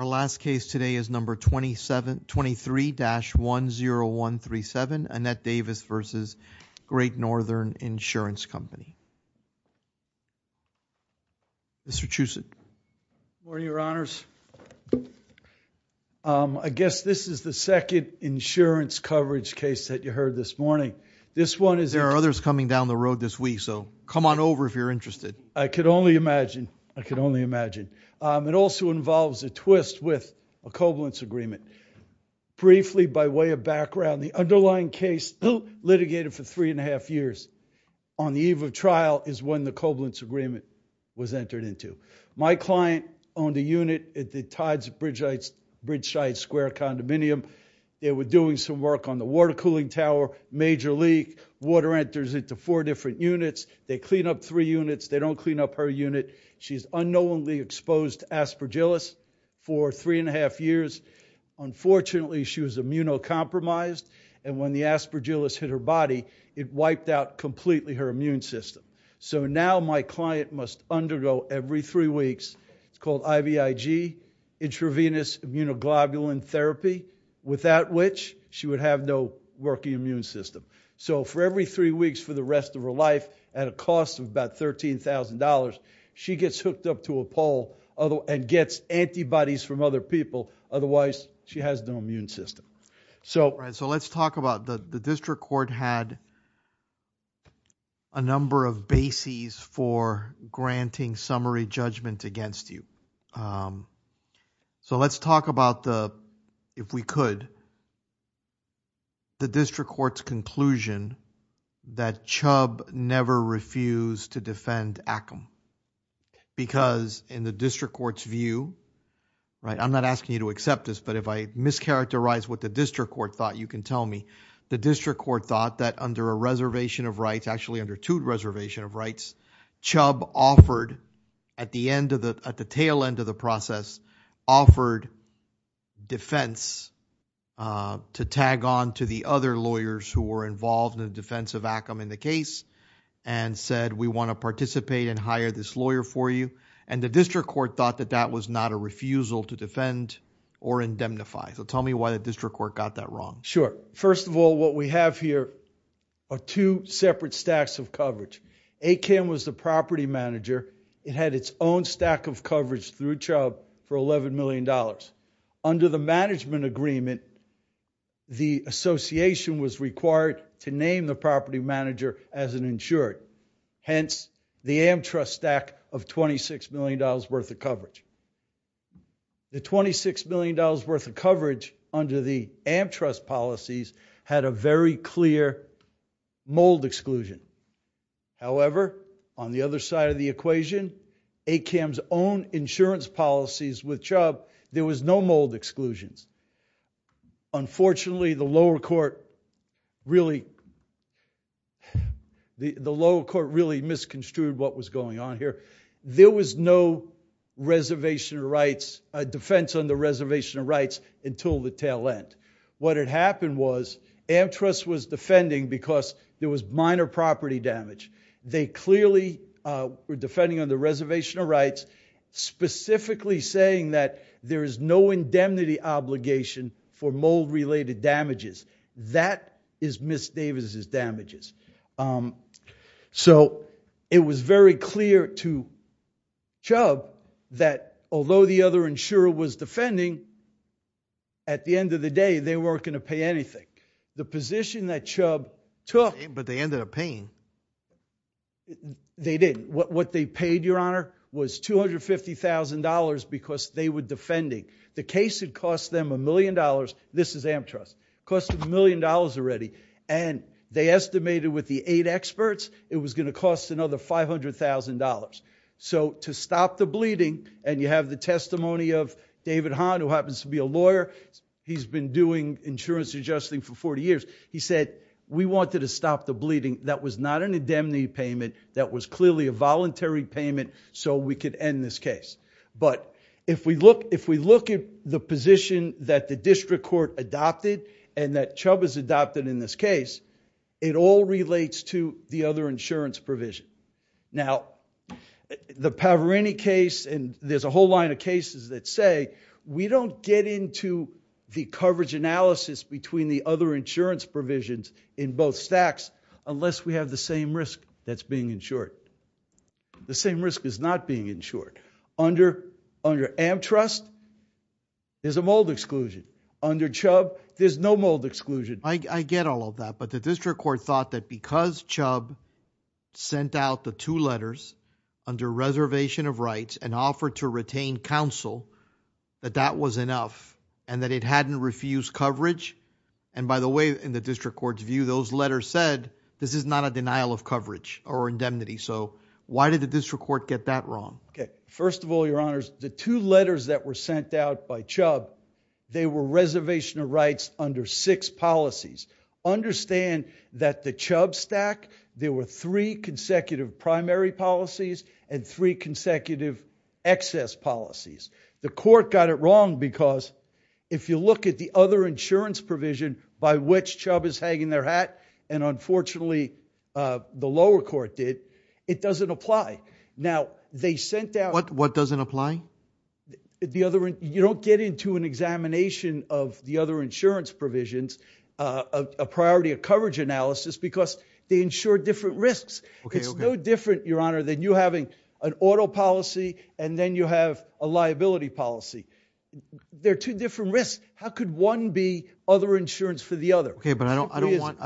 The last case today is number 23-10137, Annette Davis v. Great Northern Insurance Company. Mr. Chucid. Good morning, your honors. I guess this is the second insurance coverage case that you heard this morning. There are others coming down the road this week, so come on over if you're interested. I could only imagine, I could only imagine. It also involves a twist with a covalence agreement. Briefly, by way of background, the underlying case litigated for three and a half years on the eve of trial is when the covalence agreement was entered into. My client owned a unit at the Tides Bridgeside Square condominium. They were doing some work on the water cooling tower. Major leak. Water enters into four different units. They clean up three units. They don't clean up her unit. She's unknowingly exposed to aspergillus for three and a half years. Unfortunately, she was immunocompromised, and when the aspergillus hit her body, it wiped out completely her immune system. So now my client must undergo, every three weeks, it's called IVIG, intravenous immunoglobulin therapy, without which she would have no working immune system. For every three weeks for the rest of her life, at a cost of about $13,000, she gets hooked up to a pole and gets antibodies from other people. Otherwise, she has no immune system. So let's talk about the district court had a number of bases for granting summary judgment against you. So let's talk about the, if we could, the district court's conclusion that Chubb never refused to defend Ackam. Because in the district court's view, right, I'm not asking you to accept this, but if I mischaracterize what the district court thought, you can tell me. The district court thought that under a reservation of rights, actually under two reservation of rights, Chubb offered at the end of the, at the tail end of the process, offered defense to tag on to the other lawyers who were involved in the defense of Ackam in the case and said, we want to participate and hire this lawyer for you. And the district court thought that that was not a refusal to defend or indemnify. So tell me why the district court got that wrong. Sure. First of all, what we have here are two separate stacks of coverage. Ackam was the property manager. It had its own stack of coverage through Chubb for $11 million. Under the management agreement, the association was required to name the property manager as an exclusive coverage. The $26 million worth of coverage under the Amtrust policies had a very clear mold exclusion. However, on the other side of the equation, Ackam's own insurance policies with Chubb, there was no mold exclusions. Unfortunately, the lower court really, the lower court really misconstrued what was going on here. There was no reservation of rights, defense on the reservation of rights until the tail end. What had happened was Amtrust was defending because there was minor property damage. They clearly were defending on the reservation of rights, specifically saying that there is no indemnity obligation for mold related damages. That is Ms. Davis' damages. So it was very clear to Chubb that although the other insurer was defending, at the end of the day, they weren't going to pay anything. The position that Chubb took... But they ended up paying. They did. What they paid, your honor, was $250,000 because they were defending. The case had cost them a million dollars. This is Amtrust. Cost them a million dollars already. And they estimated with the eight experts, it was going to cost another $500,000. So to stop the bleeding, and you have the testimony of David Hahn, who happens to be a lawyer. He's been doing insurance adjusting for 40 years. He said, we wanted to stop the bleeding. That was not an indemnity payment. That was clearly a voluntary payment so we could end this case. But if we look at the position that the district court adopted and that Chubb has adopted in this case, it all relates to the other insurance provision. Now, the Pavareni case, and there's a whole line of cases that say, we don't get into the coverage analysis between the other insurance provisions in both stacks unless we have the same risk that's being insured. The same risk is not being insured. Under Amtrust, there's a mold exclusion. Under Chubb, there's no mold exclusion. I get all of that. But the district court thought that because Chubb sent out the two letters under reservation of rights and offered to retain counsel, that that was enough, and that it hadn't refused coverage. And by the way, in the district court's view, those letters said this is not a denial of coverage or indemnity. So why did the district court get that wrong? Okay. First of all, your honors, the two letters that were sent out by Chubb, they were reservation of rights under six policies. Understand that the Chubb stack, there were three consecutive primary policies and three consecutive excess policies. The court got it wrong because if you look at the other insurance provision by which Chubb is hanging their hat, and unfortunately the lower court did, it doesn't apply. Now, they sent out- What doesn't apply? The other, you don't get into an examination of the other insurance provisions, a priority of coverage analysis because they insure different risks. It's no different, your honor, than you having an auto policy and then you have a liability policy. They're two different risks. How could one be other insurance for the other? Okay, but I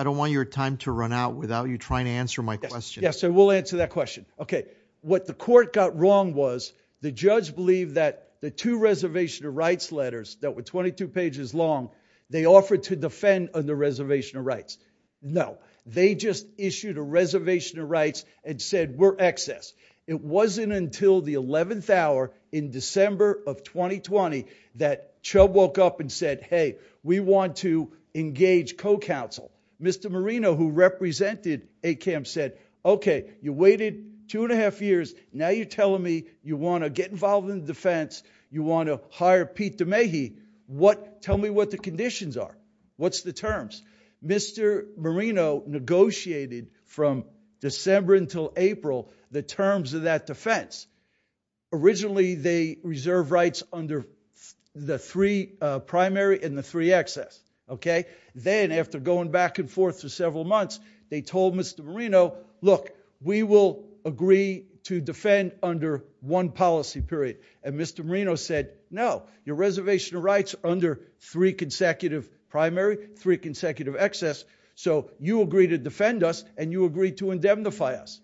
don't want your time to run out without you trying to answer my question. Yes, sir. We'll answer that question. Okay. What the court got wrong was the judge believed that the two reservation of rights letters that were 22 pages long, they offered to defend on the reservation of rights. No, they just issued a reservation of rights and said we're excess. It wasn't until the 11th hour in December of 2020 that Chubb woke up and said, hey, we want to engage co-counsel. Mr. Marino, who represented ACAM, said, okay, you waited two and a half years, now you're telling me you want to get involved in the defense, you want to hire Pete DeMahie, tell me what the conditions are. What's the terms? Mr. Marino negotiated from December until April the terms of that defense. Originally, they reserved rights under the three primary and the three excess. Okay. Then after going back and forth for several months, they told Mr. Marino, look, we will agree to defend under one policy period. And Mr. Marino said, no, your reservation of rights under three consecutive primary, three consecutive excess, so you agree to defend us and you agree to indemnify us.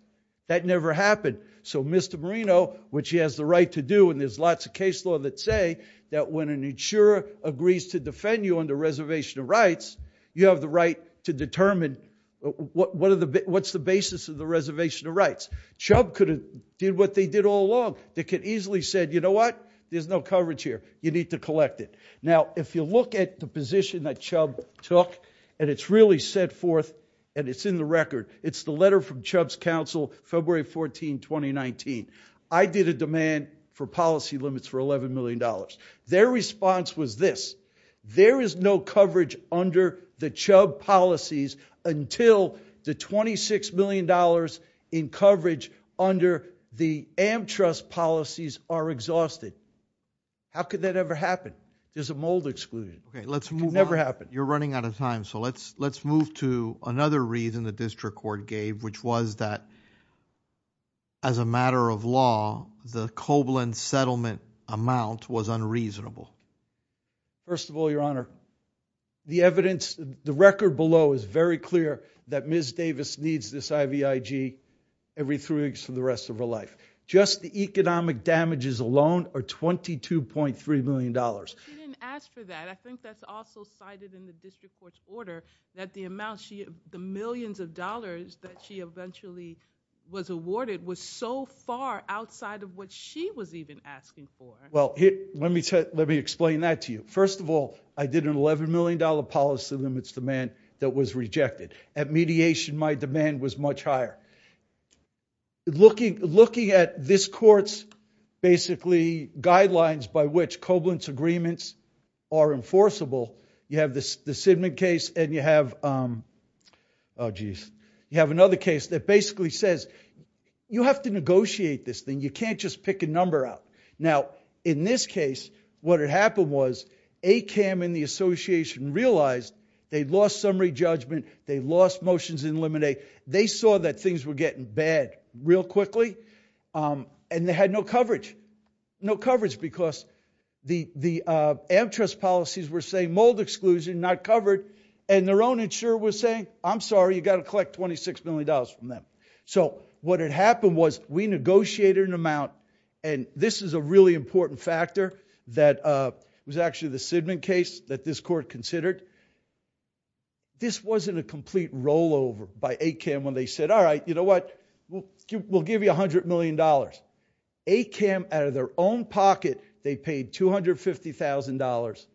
That never happened. So Mr. Marino, which he has the right to do, and there's lots of case law that say that when an insurer agrees to defend you on the reservation of rights, you have the right to determine what's the basis of the reservation of rights. Chubb could have did what they did all along. They could easily said, you know what? There's no coverage here. You need to collect it. Now, if you look at the position that Chubb took and it's really set forth and it's in the record, it's the letter from Chubb's counsel, February 14, 2019. I did a demand for policy limits for $11 million. Their response was this. There is no coverage under the Chubb policies until the $26 million in coverage under the Amtrust policies are exhausted. How could that ever happen? There's a mold exclusion. Let's move. Never happened. You're running out of time. So let's, let's move to another reason the district court gave, which was that as a matter of law, the Koblenz settlement amount was unreasonable. First of all, your honor, the evidence, the record below is very clear that Ms. Davis needs this IVIG every three weeks for the rest of her life. Just the economic damages alone are $22.3 million. She didn't ask for that. I think that's also cited in the district court's order that the amount she, the millions of dollars that she eventually was awarded was so far outside of what she was even asking for. Well, let me explain that to you. First of all, I did an $11 million policy limits demand that was rejected. At mediation, my demand was much higher. Looking, looking at this court's basically guidelines by which Koblenz agreements are enforceable. You have this, the Sidman case and you have, um, oh geez, you have another case that basically says you have to negotiate this thing. You can't just pick a number out. Now, in this case, what had happened was ACAM and the association realized they'd lost summary judgment. They lost motions in limine. They saw that things were getting bad real quickly. Um, and they had no coverage, no coverage because the, the, uh, Amtrust policies were saying mold exclusion, not covered. And their own insurer was saying, I'm sorry, you got to collect $26 million from them. So what had happened was we negotiated an amount, and this is a really important factor that, uh, was actually the Sidman case that this court considered. This wasn't a complete rollover by ACAM when they said, all right, you know what, we'll give you $100 million. ACAM out of their own pocket, they paid $250,000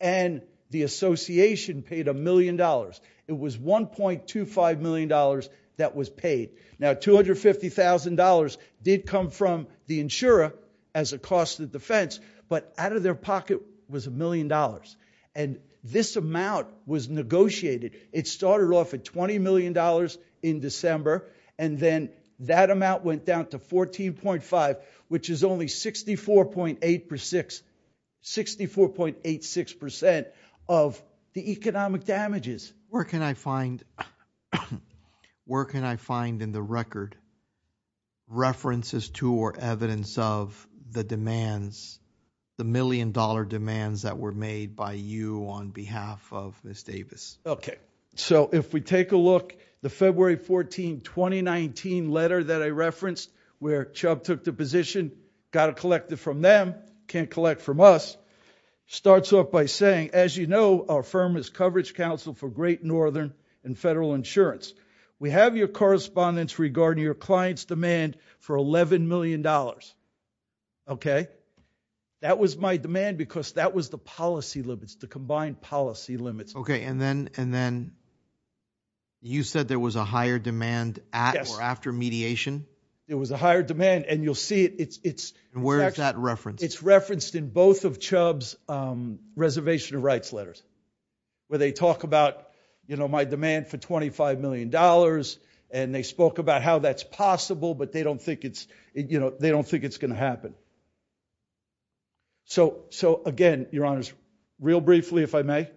and the association paid a million dollars. It was $1.25 million that was paid. Now, $250,000 did come from the insurer as a cost of defense, but out of their pocket was a million dollars. And this amount was negotiated. It started off at $20 million in December. And then that amount went down to 14.5, which is only 64.8 per six, 64.86% of the economic damages. Where can I find, where can I find in the record references to or evidence of the demands, the million dollar demands that were made by you on behalf of Ms. Davis? Okay. So if we take a look, the February 14, 2019 letter that I referenced where Chubb took the position, got to collect it from them, can't collect from us, starts off by saying, as you know, our firm is coverage council for great Northern and federal insurance. We have your correspondence regarding your client's demand for $11 million. Okay. That was my demand because that was the policy limits, the combined policy limits. Okay. And then, and then you said there was a higher demand at or after mediation. It was a higher demand and you'll see it. It's, it's where is that about? You know, my demand for $25 million and they spoke about how that's possible, but they don't think it's, you know, they don't think it's going to happen. So, so again, your honors real briefly, if I may,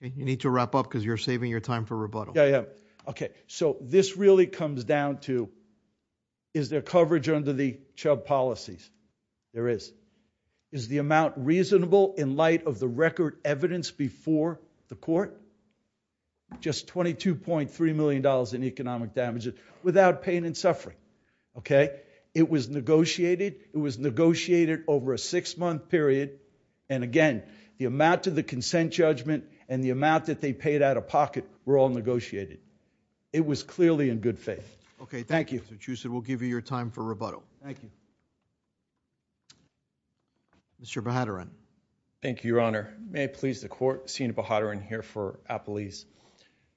you need to wrap up cause you're saving your time for rebuttal. Yeah. Yeah. Okay. So this really comes down to, is there coverage under the Chubb policies? There is. Is the amount reasonable in light of the record evidence before the court, just $22.3 million in economic damages without pain and suffering. Okay. It was negotiated. It was negotiated over a six month period. And again, the amount to the consent judgment and the amount that they paid out of pocket were all negotiated. It was clearly in good faith. Okay. Thank you. We'll give you your time for rebuttal. Thank you. Mr. Bahadurin. Thank you, your honor. May it please the court, Sina Bahadurin here for Appalese.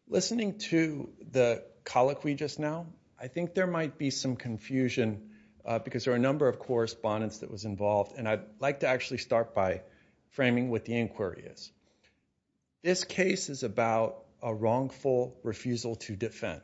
Listening to the colloquy just now, I think there might be some confusion because there are a number of correspondence that was involved and I'd like to actually start by framing what the inquiry is. This case is about a wrongful refusal to defend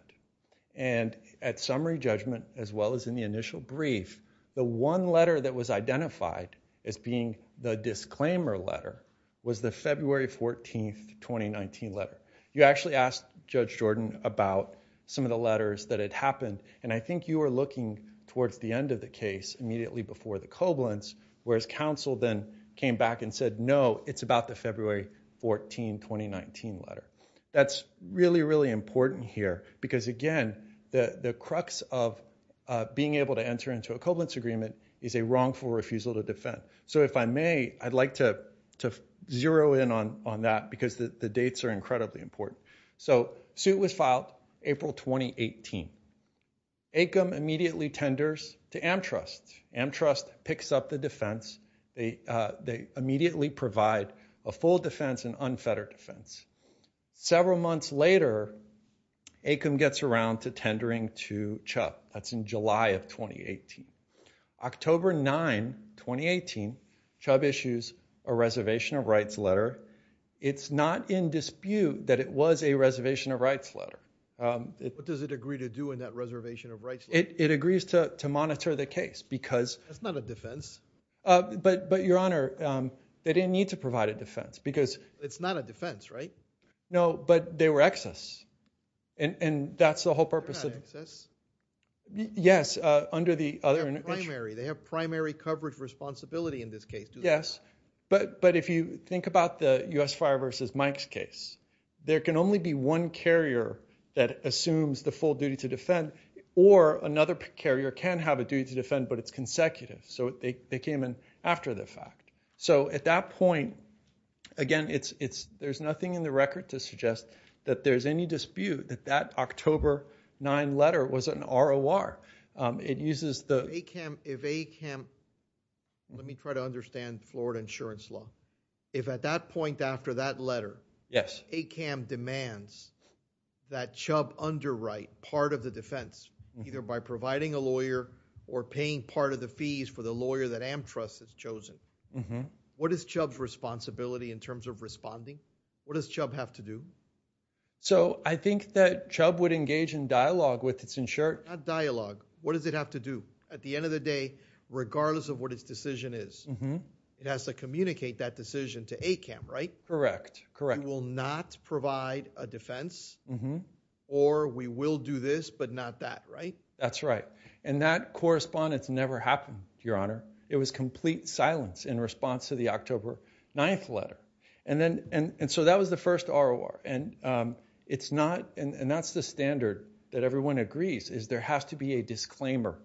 and at summary judgment, as well as in the initial brief, the one letter that was identified as being the disclaimer letter was the February 14th, 2019 letter. You actually asked Judge Jordan about some of the letters that had happened. And I think you were looking towards the end of the case immediately before the Koblentz, whereas counsel then came back and said, no, it's about February 14, 2019 letter. That's really, really important here because again, the crux of being able to enter into a Koblentz agreement is a wrongful refusal to defend. So if I may, I'd like to zero in on that because the dates are incredibly important. So suit was filed April, 2018. Acom immediately tenders to Amtrust. Amtrust picks up the defense. They immediately provide a full defense and unfettered defense. Several months later, Acom gets around to tendering to Chubb. That's in July of 2018. October 9, 2018, Chubb issues a reservation of rights letter. It's not in dispute that it was a reservation of rights letter. What does it agree to do in that reservation of rights? It agrees to monitor the case because... That's not a defense. But your honor, they didn't need to provide a defense because... It's not a defense, right? No, but they were excess. And that's the whole purpose of... They're not excess. Yes, under the other... They're primary. They have primary coverage responsibility in this case. Yes, but if you think about the US Fire versus Mike's case, there can only be one carrier that assumes the full duty to defend or another carrier can have a duty to defend, but it's consecutive. So they came in after the fact. So at that point, again, there's nothing in the record to suggest that there's any dispute that that October 9 letter was an ROR. It uses the... Let me try to understand Florida insurance law. If at that point after that letter, ACAM demands that Chubb underwrite part of the defense, either by providing a lawyer or paying part of the fees for the lawyer that Amtrust has chosen, what is Chubb's responsibility in terms of responding? What does Chubb have to do? So I think that Chubb would engage in dialogue with his insurance... Not dialogue. What does it have to do? At the end of the day, regardless of what its decision is, it has to communicate that decision to ACAM, right? Correct. Correct. We will not provide a defense or we will do this, but not that, right? That's right. And that correspondence never happened, Your Honor. It was complete silence in response to the October 9th letter. And so that was the first ROR. And that's the standard that everyone agrees is there has to be a disclaimer,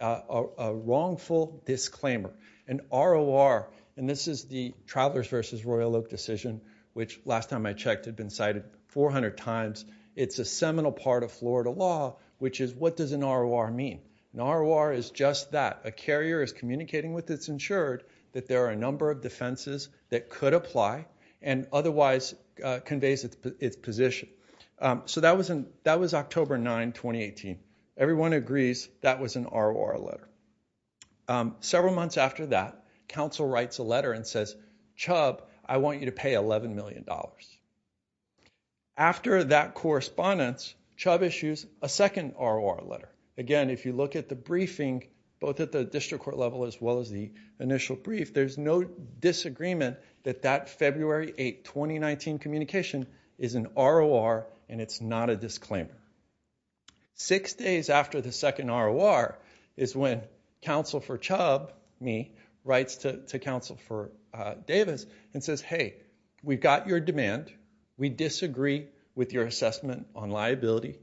a wrongful disclaimer. An ROR, and this is the Travelers versus Royal Oak decision, which last time I checked had been cited 400 times. It's a seminal part of Florida law, which is what does an ROR mean? An ROR is just that. A carrier is communicating with its insured that there are a number of defenses that could apply and otherwise conveys its position. So that was October 9, 2018. Everyone agrees that was an ROR letter. Several months after that, counsel writes a letter and says, Chubb, I want you to pay $11 million. After that correspondence, Chubb issues a second ROR letter. Again, if you look at the briefing, both at the district court level as well as the and it's not a disclaimer. Six days after the second ROR is when counsel for Chubb, me, writes to counsel for Davis and says, hey, we've got your demand. We disagree with your assessment on liability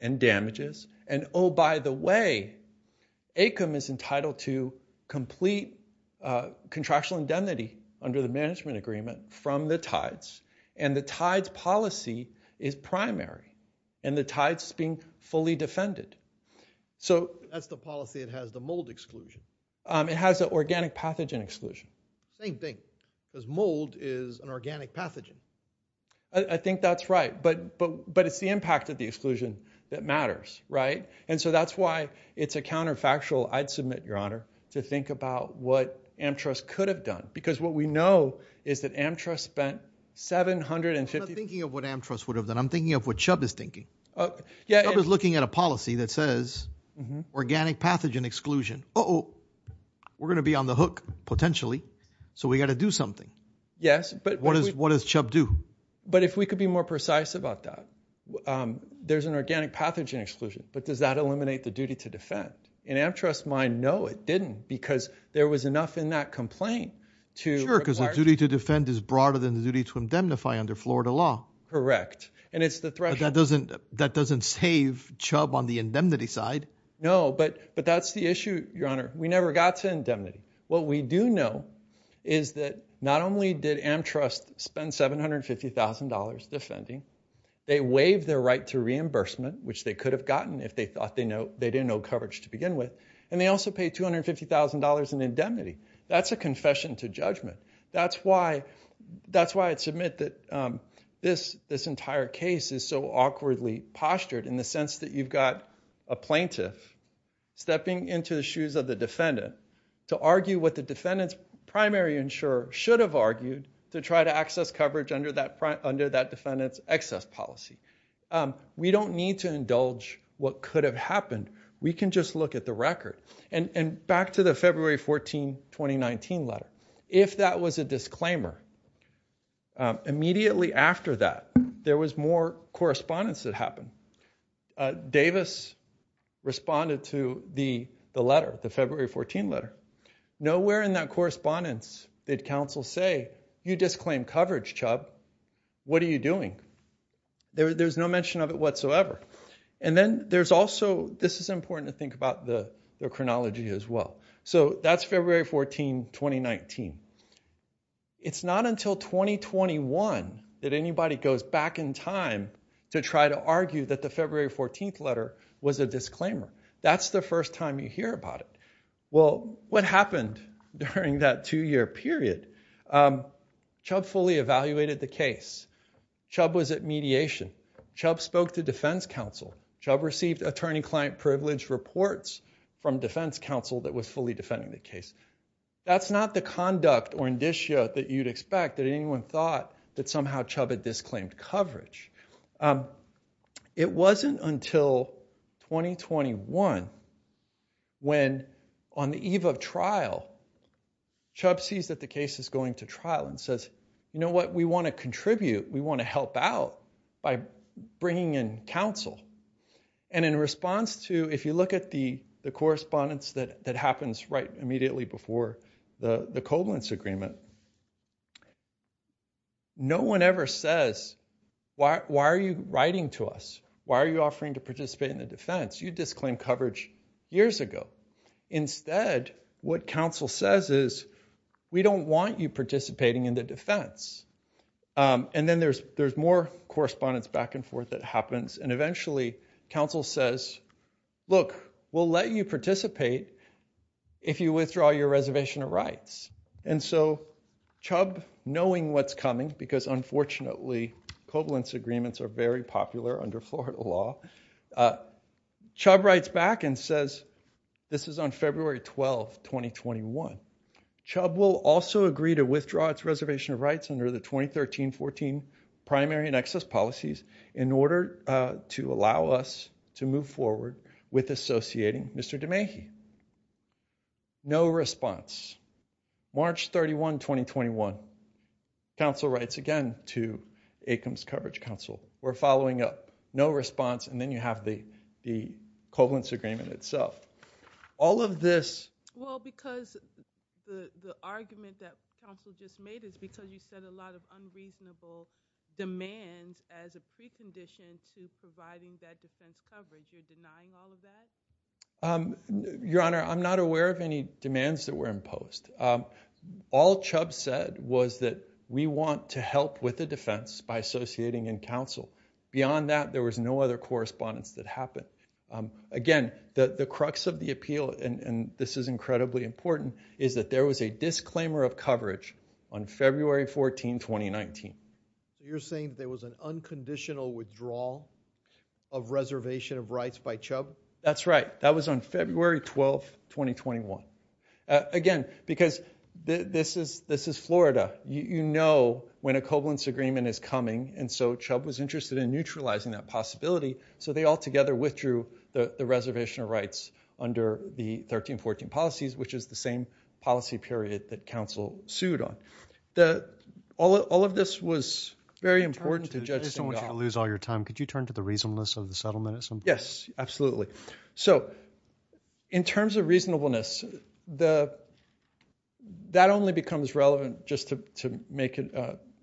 and damages. And oh, by the way, ACIM is entitled to complete contractual indemnity under the is primary. And the tide is being fully defended. That's the policy. It has the mold exclusion. It has an organic pathogen exclusion. Same thing. Because mold is an organic pathogen. I think that's right. But it's the impact of the exclusion that matters, right? And so that's why it's a counterfactual, I'd submit, Your Honor, to think about what Amtras could have done. Because what we know is that Amtras spent 750 of what Amtras would have done. I'm thinking of what Chubb is thinking. Chubb is looking at a policy that says organic pathogen exclusion. Uh-oh. We're going to be on the hook, potentially. So we got to do something. Yes. But what does Chubb do? But if we could be more precise about that, there's an organic pathogen exclusion. But does that eliminate the duty to defend? In Amtras' mind, no, it didn't. Because there was enough in that complaint to to defend is broader than the duty to indemnify under Florida law. Correct. But that doesn't save Chubb on the indemnity side. No, but that's the issue, Your Honor. We never got to indemnity. What we do know is that not only did Amtras spend $750,000 defending, they waived their right to reimbursement, which they could have gotten if they thought they didn't know coverage to begin with. And they also paid $250,000 in indemnity. That's a confession to judgment. That's why I'd submit that this entire case is so awkwardly postured in the sense that you've got a plaintiff stepping into the shoes of the defendant to argue what the defendant's primary insurer should have argued to try to access coverage under that defendant's excess policy. We don't need to indulge what could have happened. We can just look at the record. And back to the February 14, 2019 letter. If that was a disclaimer, immediately after that, there was more correspondence that happened. Davis responded to the letter, the February 14 letter. Nowhere in that correspondence did counsel say, you disclaimed coverage, Chubb. What are you doing? There's no mention of it whatsoever. And then there's also, this is important to think about the chronology as well. So that's February 14, 2019. It's not until 2021 that anybody goes back in time to try to argue that the February 14 letter was a disclaimer. That's the first time you hear about it. Well, what happened during that two-year period? Chubb fully evaluated the case. Chubb was at mediation. Chubb spoke to defense counsel. Chubb received attorney-client privilege reports from defense counsel that was fully defending the case. That's not the conduct or indicia that you'd expect that anyone thought that somehow Chubb had disclaimed coverage. It wasn't until 2021 when on the eve of trial, Chubb sees that the case is going to trial and says, you know what? We want to contribute. We want to help out by bringing in counsel. And in response to, if you look at the correspondence that happens right immediately before the covalence agreement, no one ever says, why are you writing to us? Why are you offering to participate in the defense? You disclaimed coverage years ago. Instead, what counsel says is, we don't want you participating in the defense. And then there's more correspondence back and forth that happens. And eventually, counsel says, look, we'll let you participate if you withdraw your reservation of rights. And so Chubb, knowing what's coming, because unfortunately covalence agreements are popular under Florida law, Chubb writes back and says, this is on February 12, 2021. Chubb will also agree to withdraw its reservation of rights under the 2013-14 primary and excess policies in order to allow us to move forward with associating Mr. DeMahie. No response. March 31, 2021. Counsel writes again to ACAMS Coverage Counsel. We're following up. No response. And then you have the covalence agreement itself. All of this... Well, because the argument that counsel just made is because you said a lot of unreasonable demands as a precondition to providing that defense coverage. You're denying all of that? Your Honor, I'm not aware of any demands that were imposed. All Chubb said was that we want to help with the defense by associating in counsel. Beyond that, there was no other correspondence that happened. Again, the crux of the appeal, and this is incredibly important, is that there was a disclaimer of coverage on February 14, 2019. You're saying there was an unconditional withdrawal of reservation of rights by Chubb? That's right. That was on February 12, 2021. Again, because this is Florida. You know when a covalence agreement is coming, and so Chubb was interested in neutralizing that possibility, so they all together withdrew the reservation of rights under the 2013-14 policies, which is the same policy period that counsel sued on. All of this was very important to Judge Stengel. I just don't want you to lose your time. Could you turn to the reasonableness of the settlement at some point? Yes, absolutely. In terms of reasonableness, that only becomes relevant, just to make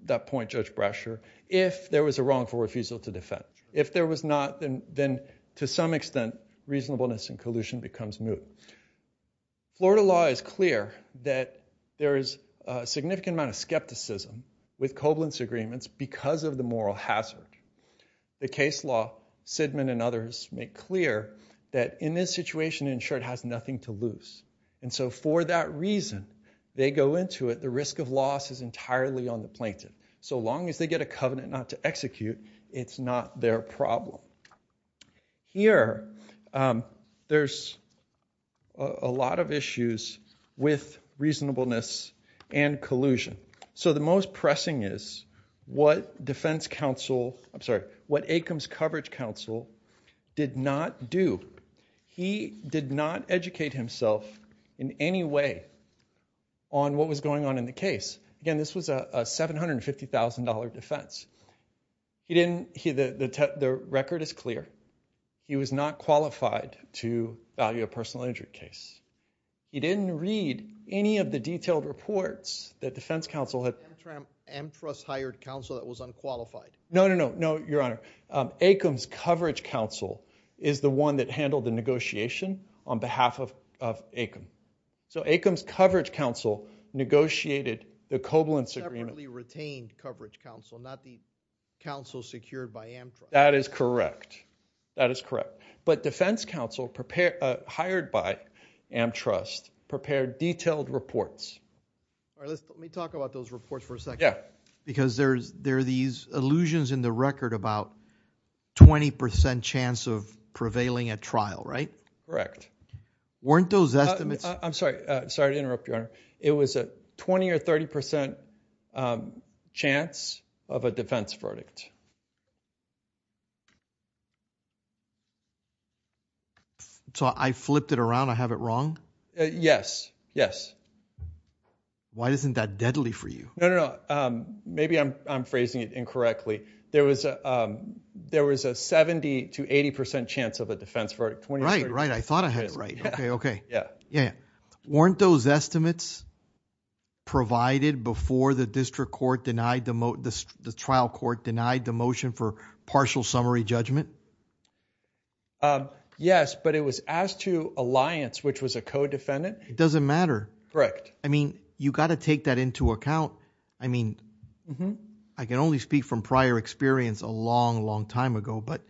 that point, Judge Brasher, if there was a wrongful refusal to defend. If there was not, then to some extent reasonableness and collusion becomes moot. Florida law is clear that there is a significant amount of skepticism with covalence agreements because of the moral hazard. The case law, Sidman and others make clear that in this situation, insured has nothing to lose. And so for that reason, they go into it, the risk of loss is entirely on the plaintiff. So long as they get a covenant not to execute, it's not their problem. Here, there's a lot of issues with reasonableness and collusion. So the most pressing is what defense counsel, I'm sorry, what Acombs Coverage Counsel did not do. He did not educate himself in any way on what was going on in the case. Again, this was a $750,000 defense. The record is clear. He was not qualified to value a personal injury case. He didn't read any of the detailed reports that defense counsel had. Amtrust hired counsel that was unqualified. No, no, no, no, your honor. Acombs Coverage Counsel is the one that handled the negotiation on behalf of Acombs. So Acombs Coverage Counsel negotiated the covalence agreement. Separately retained coverage counsel, not the counsel secured by Amtrust. That is correct. That is correct. But defense counsel hired by Amtrust prepared detailed reports. Let me talk about those reports for a second. Yeah. Because there are these allusions in the record about 20% chance of prevailing at trial, right? Correct. Weren't those estimates? I'm sorry to interrupt you, your honor. It was a 20 or 30% chance of a defense verdict. So I flipped it around. I have it wrong? Yes. Yes. Why isn't that deadly for you? No, no, no. Maybe I'm phrasing it incorrectly. There was a 70 to 80% chance of a defense verdict. Right, right. I thought I had it right. Okay. Okay. Yeah. Yeah. Weren't those estimates provided before the district court denied the trial court denied the motion for partial summary judgment? Yes, but it was asked to alliance, which was a co-defendant. It doesn't matter. Correct. I mean, you got to take that into account. I mean, I can only speak from prior experience a long, long time ago, but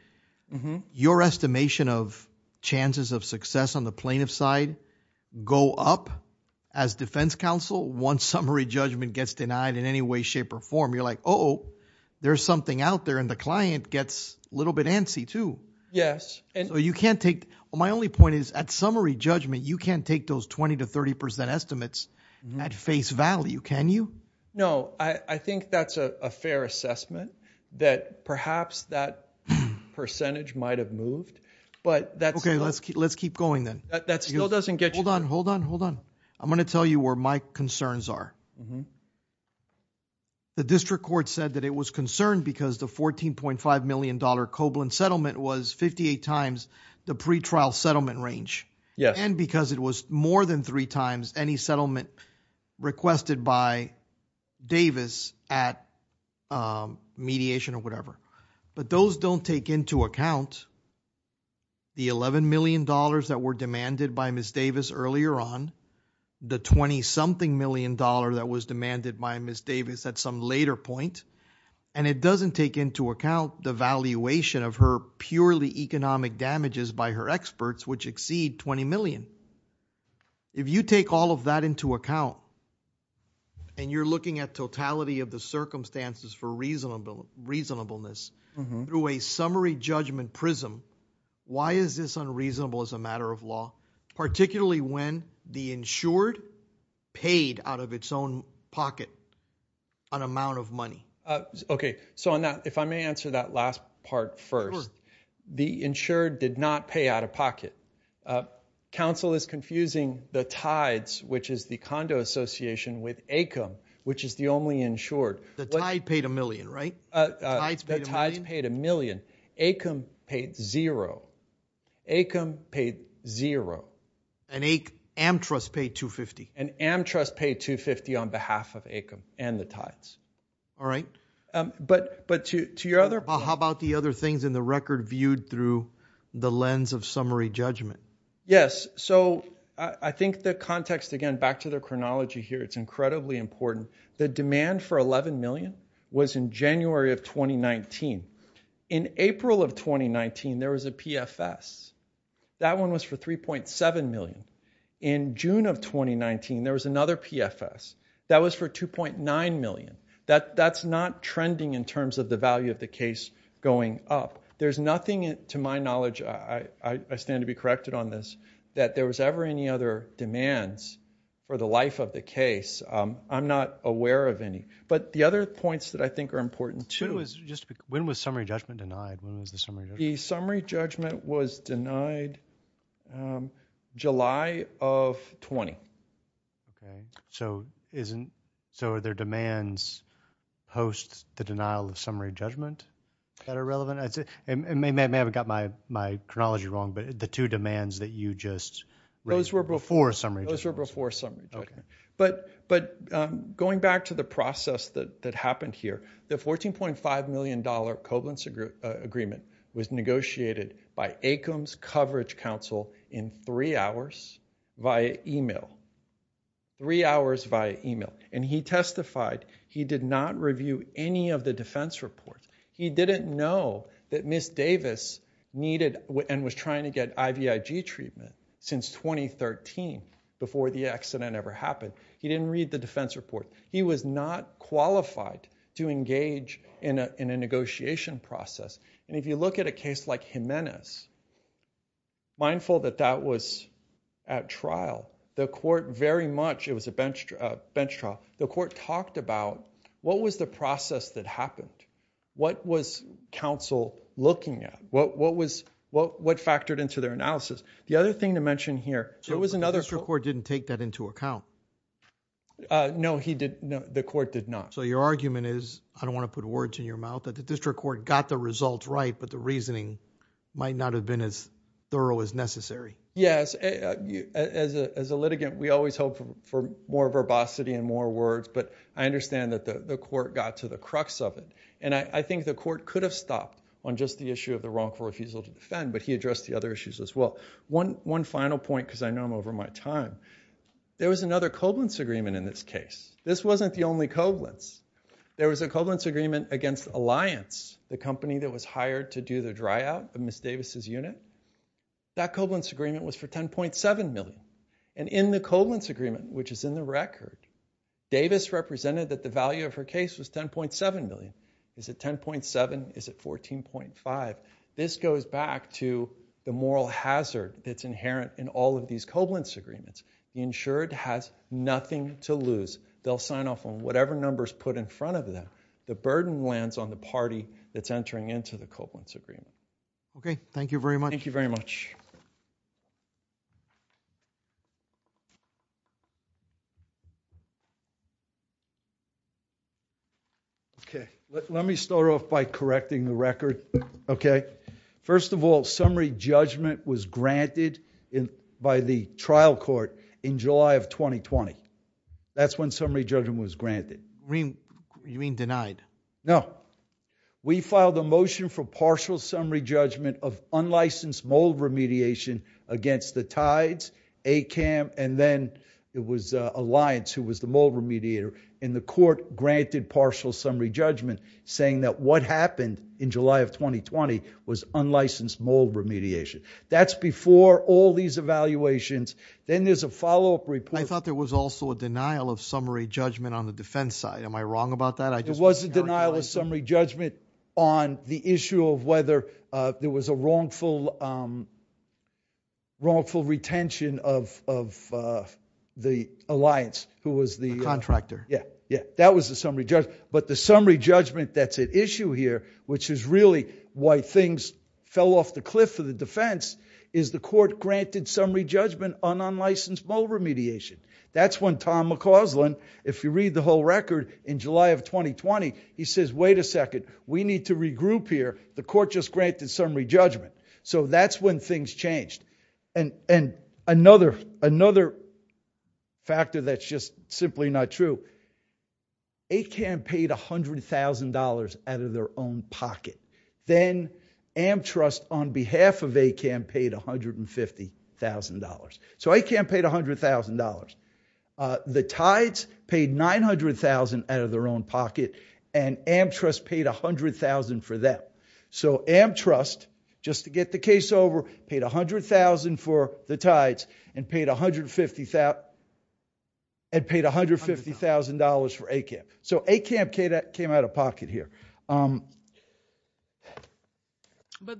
your estimation of chances of success on the plaintiff's side go up as defense counsel. One summary judgment gets denied in any way, shape or form. You're like, Oh, there's something out there. And the client gets a little bit antsy too. Yes. And so you can't take, well, my only point is at summary judgment, you can't take those 20 to 30% estimates at face value. Can you? No, I think that's a fair assessment that perhaps that percentage might've moved, but that's okay. Let's keep, let's keep going then. That still doesn't get you. Hold on, hold on, hold on. I'm going to tell you where my concerns are. The district court said that it was concerned because the $14.5 million Koblan settlement was 58 times the pretrial settlement range. Yes. And because it was more than three times any settlement requested by Davis at mediation or whatever, but those don't take into account the $11 million that were demanded by Ms. Davis earlier on the 20 something million dollar that was demanded by Ms. Davis at some later point. And it doesn't take into account the valuation of her purely economic damages by her experts, which exceed 20 million. If you take all of that into account and you're looking at totality of circumstances for reasonable reasonableness through a summary judgment prism, why is this unreasonable as a matter of law, particularly when the insured paid out of its own pocket an amount of money? Okay. So on that, if I may answer that last part first, the insured did not pay out of pocket. Council is confusing the tides, which is the condo association with ACOM, which is the only insured. The tide paid a million, right? The tides paid a million. ACOM paid zero. ACOM paid zero. And Amtrust paid 250. And Amtrust paid 250 on behalf of ACOM and the tides. All right. But to your other... How about the other things in the record viewed through the lens of summary judgment? Yes. So I think the context again, back to the chronology here, it's incredibly important. The demand for 11 million was in January of 2019. In April of 2019, there was a PFS. That one was for 3.7 million. In June of 2019, there was another PFS that was for 2.9 million. That's not trending in terms of the value of the case going up. There's nothing, to my knowledge, I stand to be corrected on this, that there was ever any other demands for the life of the case. I'm not aware of any. But the other points that I think are important too... When was summary judgment denied? When was the summary judgment denied? The summary judgment was denied July of 20. Okay. So are their demands post the denial of summary judgment that are relevant? I may have got my chronology wrong, but the two demands that you just... Those were before summary judgment. Those were before summary judgment. Okay. But going back to the process that happened here, the $14.5 million covalence agreement was negotiated by Acom's Coverage Council in three hours via email. Three hours via email. And he testified, he did not review any of the defense reports. He didn't know that Ms. Davis needed and was trying to get IVIG treatment since 2013 before the accident ever happened. He didn't read the defense report. He was not qualified to engage in a negotiation process. And if you look at a case like Jimenez, mindful that that was at trial, the court very much... Bench trial, the court talked about what was the process that happened? What was counsel looking at? What factored into their analysis? The other thing to mention here... So it was another... The district court didn't take that into account. No, the court did not. So your argument is, I don't want to put words in your mouth, that the district court got the results right, but the reasoning might not have been as thorough as necessary. Yes. As a litigant, we always hope for more verbosity and more words, but I understand that the court got to the crux of it. And I think the court could have stopped on just the issue of the wrongful refusal to defend, but he addressed the other issues as well. One final point, because I know I'm over my time. There was another covalence agreement in this case. This wasn't the only covalence. There was a covalence agreement against Alliance, the company that was hired to do the dryout of which is in the record. Davis represented that the value of her case was $10.7 million. Is it $10.7? Is it $14.5? This goes back to the moral hazard that's inherent in all of these covalence agreements. The insured has nothing to lose. They'll sign off on whatever numbers put in front of them. The burden lands on the party that's entering into the covalence agreement. Okay. Thank you very much. Thank you very much. Okay. Let me start off by correcting the record. Okay. First of all, summary judgment was granted by the trial court in July of 2020. That's when summary judgment was granted. You mean denied? No. We filed a motion for partial summary judgment of unlicensed mold remediation against the Tides, ACAM, and then it was Alliance who was the mold remediator. The court granted partial summary judgment saying that what happened in July of 2020 was unlicensed mold remediation. That's before all these evaluations. Then there's a follow-up I thought there was also a denial of summary judgment on the defense side. Am I wrong about that? It was a denial of summary judgment on the issue of whether there was a wrongful retention of the Alliance who was the contractor. Yeah. Yeah. That was the summary judgment, but the summary judgment that's at issue here, which is really why things fell off the cliff for the defense, is the court granted summary judgment on unlicensed mold remediation. That's when Tom McCausland, if you read the whole record in July of 2020, he says, wait a second, we need to regroup here. The court just granted summary judgment. That's when things changed. Another factor that's just simply not true, ACAM paid $100,000 out of their own pocket. Then Amtrust on behalf of ACAM paid $150,000. ACAM paid $100,000. The Tides paid $900,000 out of their own pocket and Amtrust paid $100,000 for them. Amtrust, just to get the case over, paid $100,000 for the Tides and paid $150,000 for ACAM. ACAM came out of pocket here. But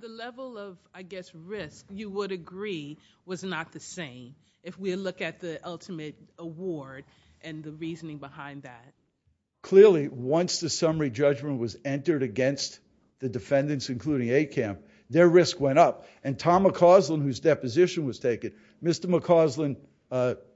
the level of, I guess, risk you would agree was not the same if we look at the ultimate award and the reasoning behind that. Clearly, once the summary judgment was entered against the defendants, including ACAM, their risk went up. Tom McCausland, whose deposition was taken, Mr. McCausland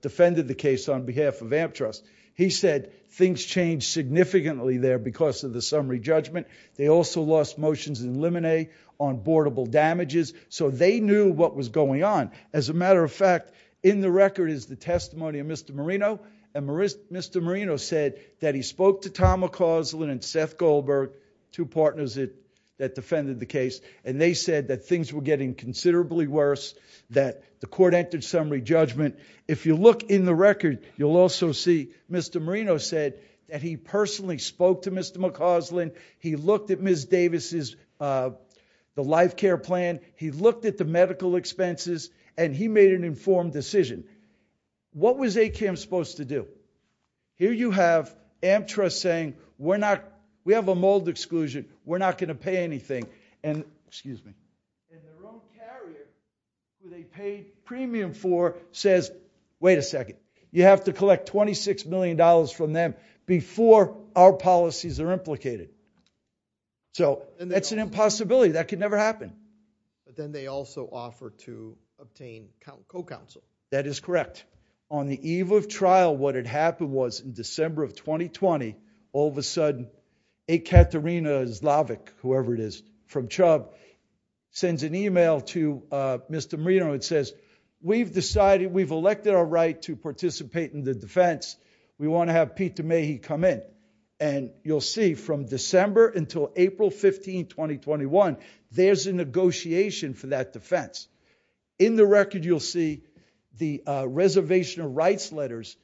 defended the case on behalf of Amtrust. He said things changed significantly there because of the summary judgment. They also lost motions in limine on boardable damages. They knew what was going on. As a matter of fact, in the record is the testimony of Mr. Marino. Mr. Marino said that he spoke to Tom McCausland and Seth Goldberg, two partners that defended the case. They said that things were getting considerably worse, that the court entered to Mr. McCausland. He looked at Ms. Davis's, the life care plan. He looked at the medical expenses and he made an informed decision. What was ACAM supposed to do? Here you have Amtrust saying, we're not, we have a mold exclusion. We're not going to pay anything. And, excuse me, who they paid premium for says, wait a second, you have to collect $26 million from them before our policies are implicated. So that's an impossibility that could never happen. But then they also offer to obtain co-counsel. That is correct. On the eve of trial, what had happened was in December of 2020, all of a sudden, Ekaterina Zlavik, whoever it is from CHUBB, sends an email to Mr. Marino and says, we've decided, we've elected our right to participate in the defense. We want to have Pete DeMahie come in. And you'll see from December until April 15, 2021, there's a negotiation for that defense. In the record, you'll see the reservation of rights letters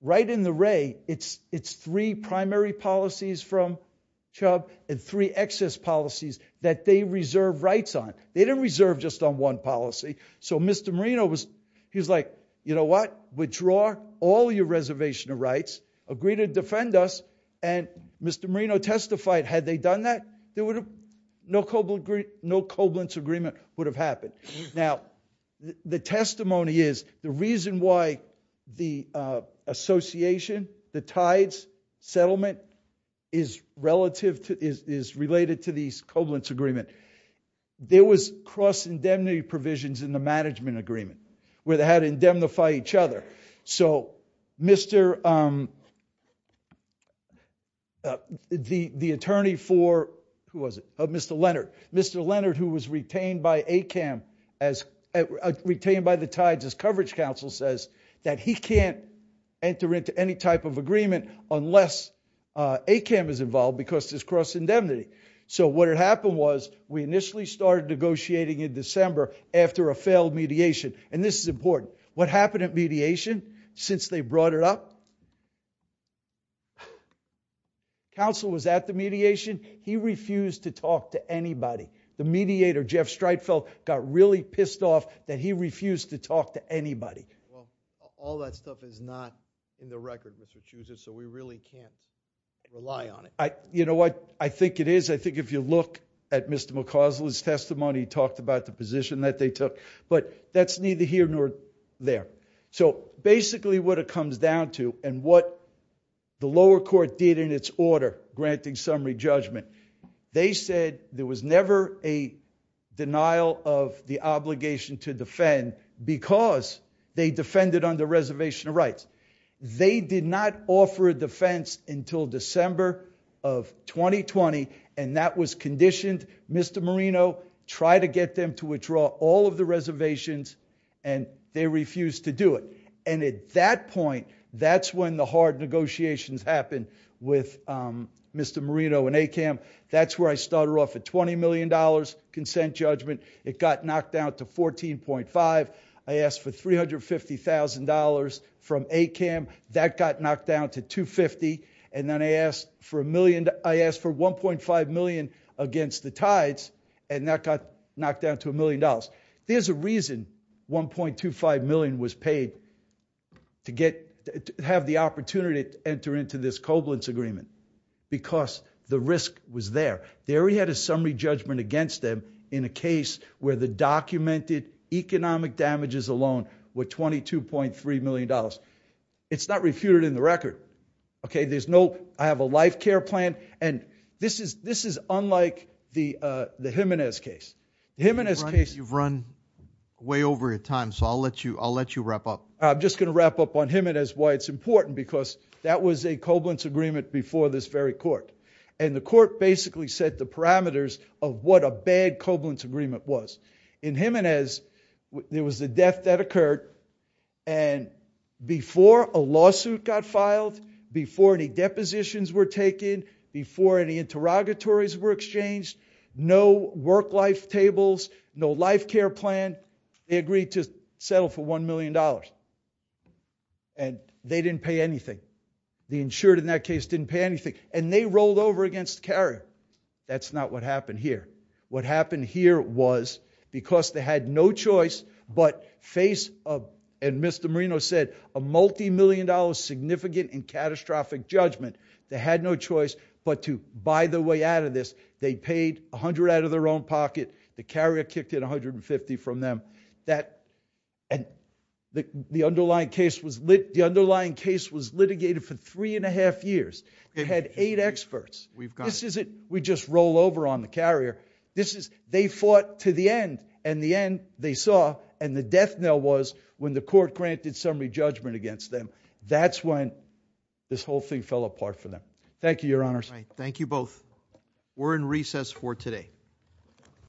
right in the ray. It's three primary policies from CHUBB and three excess policies that they reserve rights on. They didn't reserve just on one policy. So Mr. Marino was, he's like, you know what? Withdraw all your reservation of rights, agree to defend us. And Mr. Marino testified, had they done that, there would have no cobalt agreement, no cobalt agreement would have happened. Now the testimony is the reason why the association, the tides settlement is relative to, is related to these cobalt agreement. There was cross indemnity provisions in the management agreement, where they had to indemnify each other. So Mr., the attorney for, who was it? Mr. Leonard. Mr. Leonard, who was retained by ACAM as, retained by the tides as coverage counsel says that he can't enter into any type of agreement unless ACAM is involved because there's cross indemnity. So what had happened was we initially started negotiating in December after a failed mediation. And this is important. What happened at mediation since they brought it up? Counsel was at the mediation. He refused to talk to anybody. The mediator, Jeff Streitfeld, got really pissed off that he refused to talk to anybody. Well, all that stuff is not in the record, Mr. Chiuza, so we really can't rely on it. You know what? I think it is. I think if you look at Mr. McCausland's testimony, he talked about the position that they took, but that's neither here nor there. So basically what it comes down to and what the lower court did in its order, granting summary judgment, they said there was never a denial of the obligation to defend because they defended under reservation of rights. They did not offer a defense until December of 2020, and that was conditioned. Mr. Marino tried to get them to withdraw all of the reservations, and they refused to do it. And at that point, that's when the hard negotiations happened with Mr. Marino and ACAM. That's where I started off at $20 million consent judgment. It got knocked down to $14.5 million. I asked for $350,000 from ACAM. That got knocked down to $250,000. And then I asked for $1.5 million against the tides, and that got knocked down to $1 million. There's a reason $1.25 million was paid to have the opportunity to enter into this covalence agreement, because the risk was there. They already had a summary judgment against them in a case where the documented economic damages alone were $22.3 million. It's not refuted in the record, okay? I have a life care plan, and this is unlike the Jimenez case. You've run way over your time, so I'll let you wrap up. I'm just going to wrap up on Jimenez, why it's important, because that was a covalence agreement before this very court, and the court basically set the parameters of what a bad covalence agreement was. In Jimenez, there was a death that occurred, and before a lawsuit got filed, before any depositions were taken, before any interrogatories were exchanged, no work-life tables, no life care plan, they agreed to settle for $1 million, and they didn't pay anything. The insured in that case didn't pay anything, and they rolled over against the carrier. That's not what happened here. What happened here was, because they had no choice but face of, and Mr. Marino said, a multi-million dollar significant and catastrophic judgment, they had no choice but to buy their way out of this. They paid $100 out of their own pocket. The carrier for three and a half years had eight experts. We just roll over on the carrier. They fought to the end, and the end they saw, and the death knell was when the court granted summary judgment against them. That's when this whole thing fell apart for them. Thank you, your honors. Thank you both. We're in recess for today.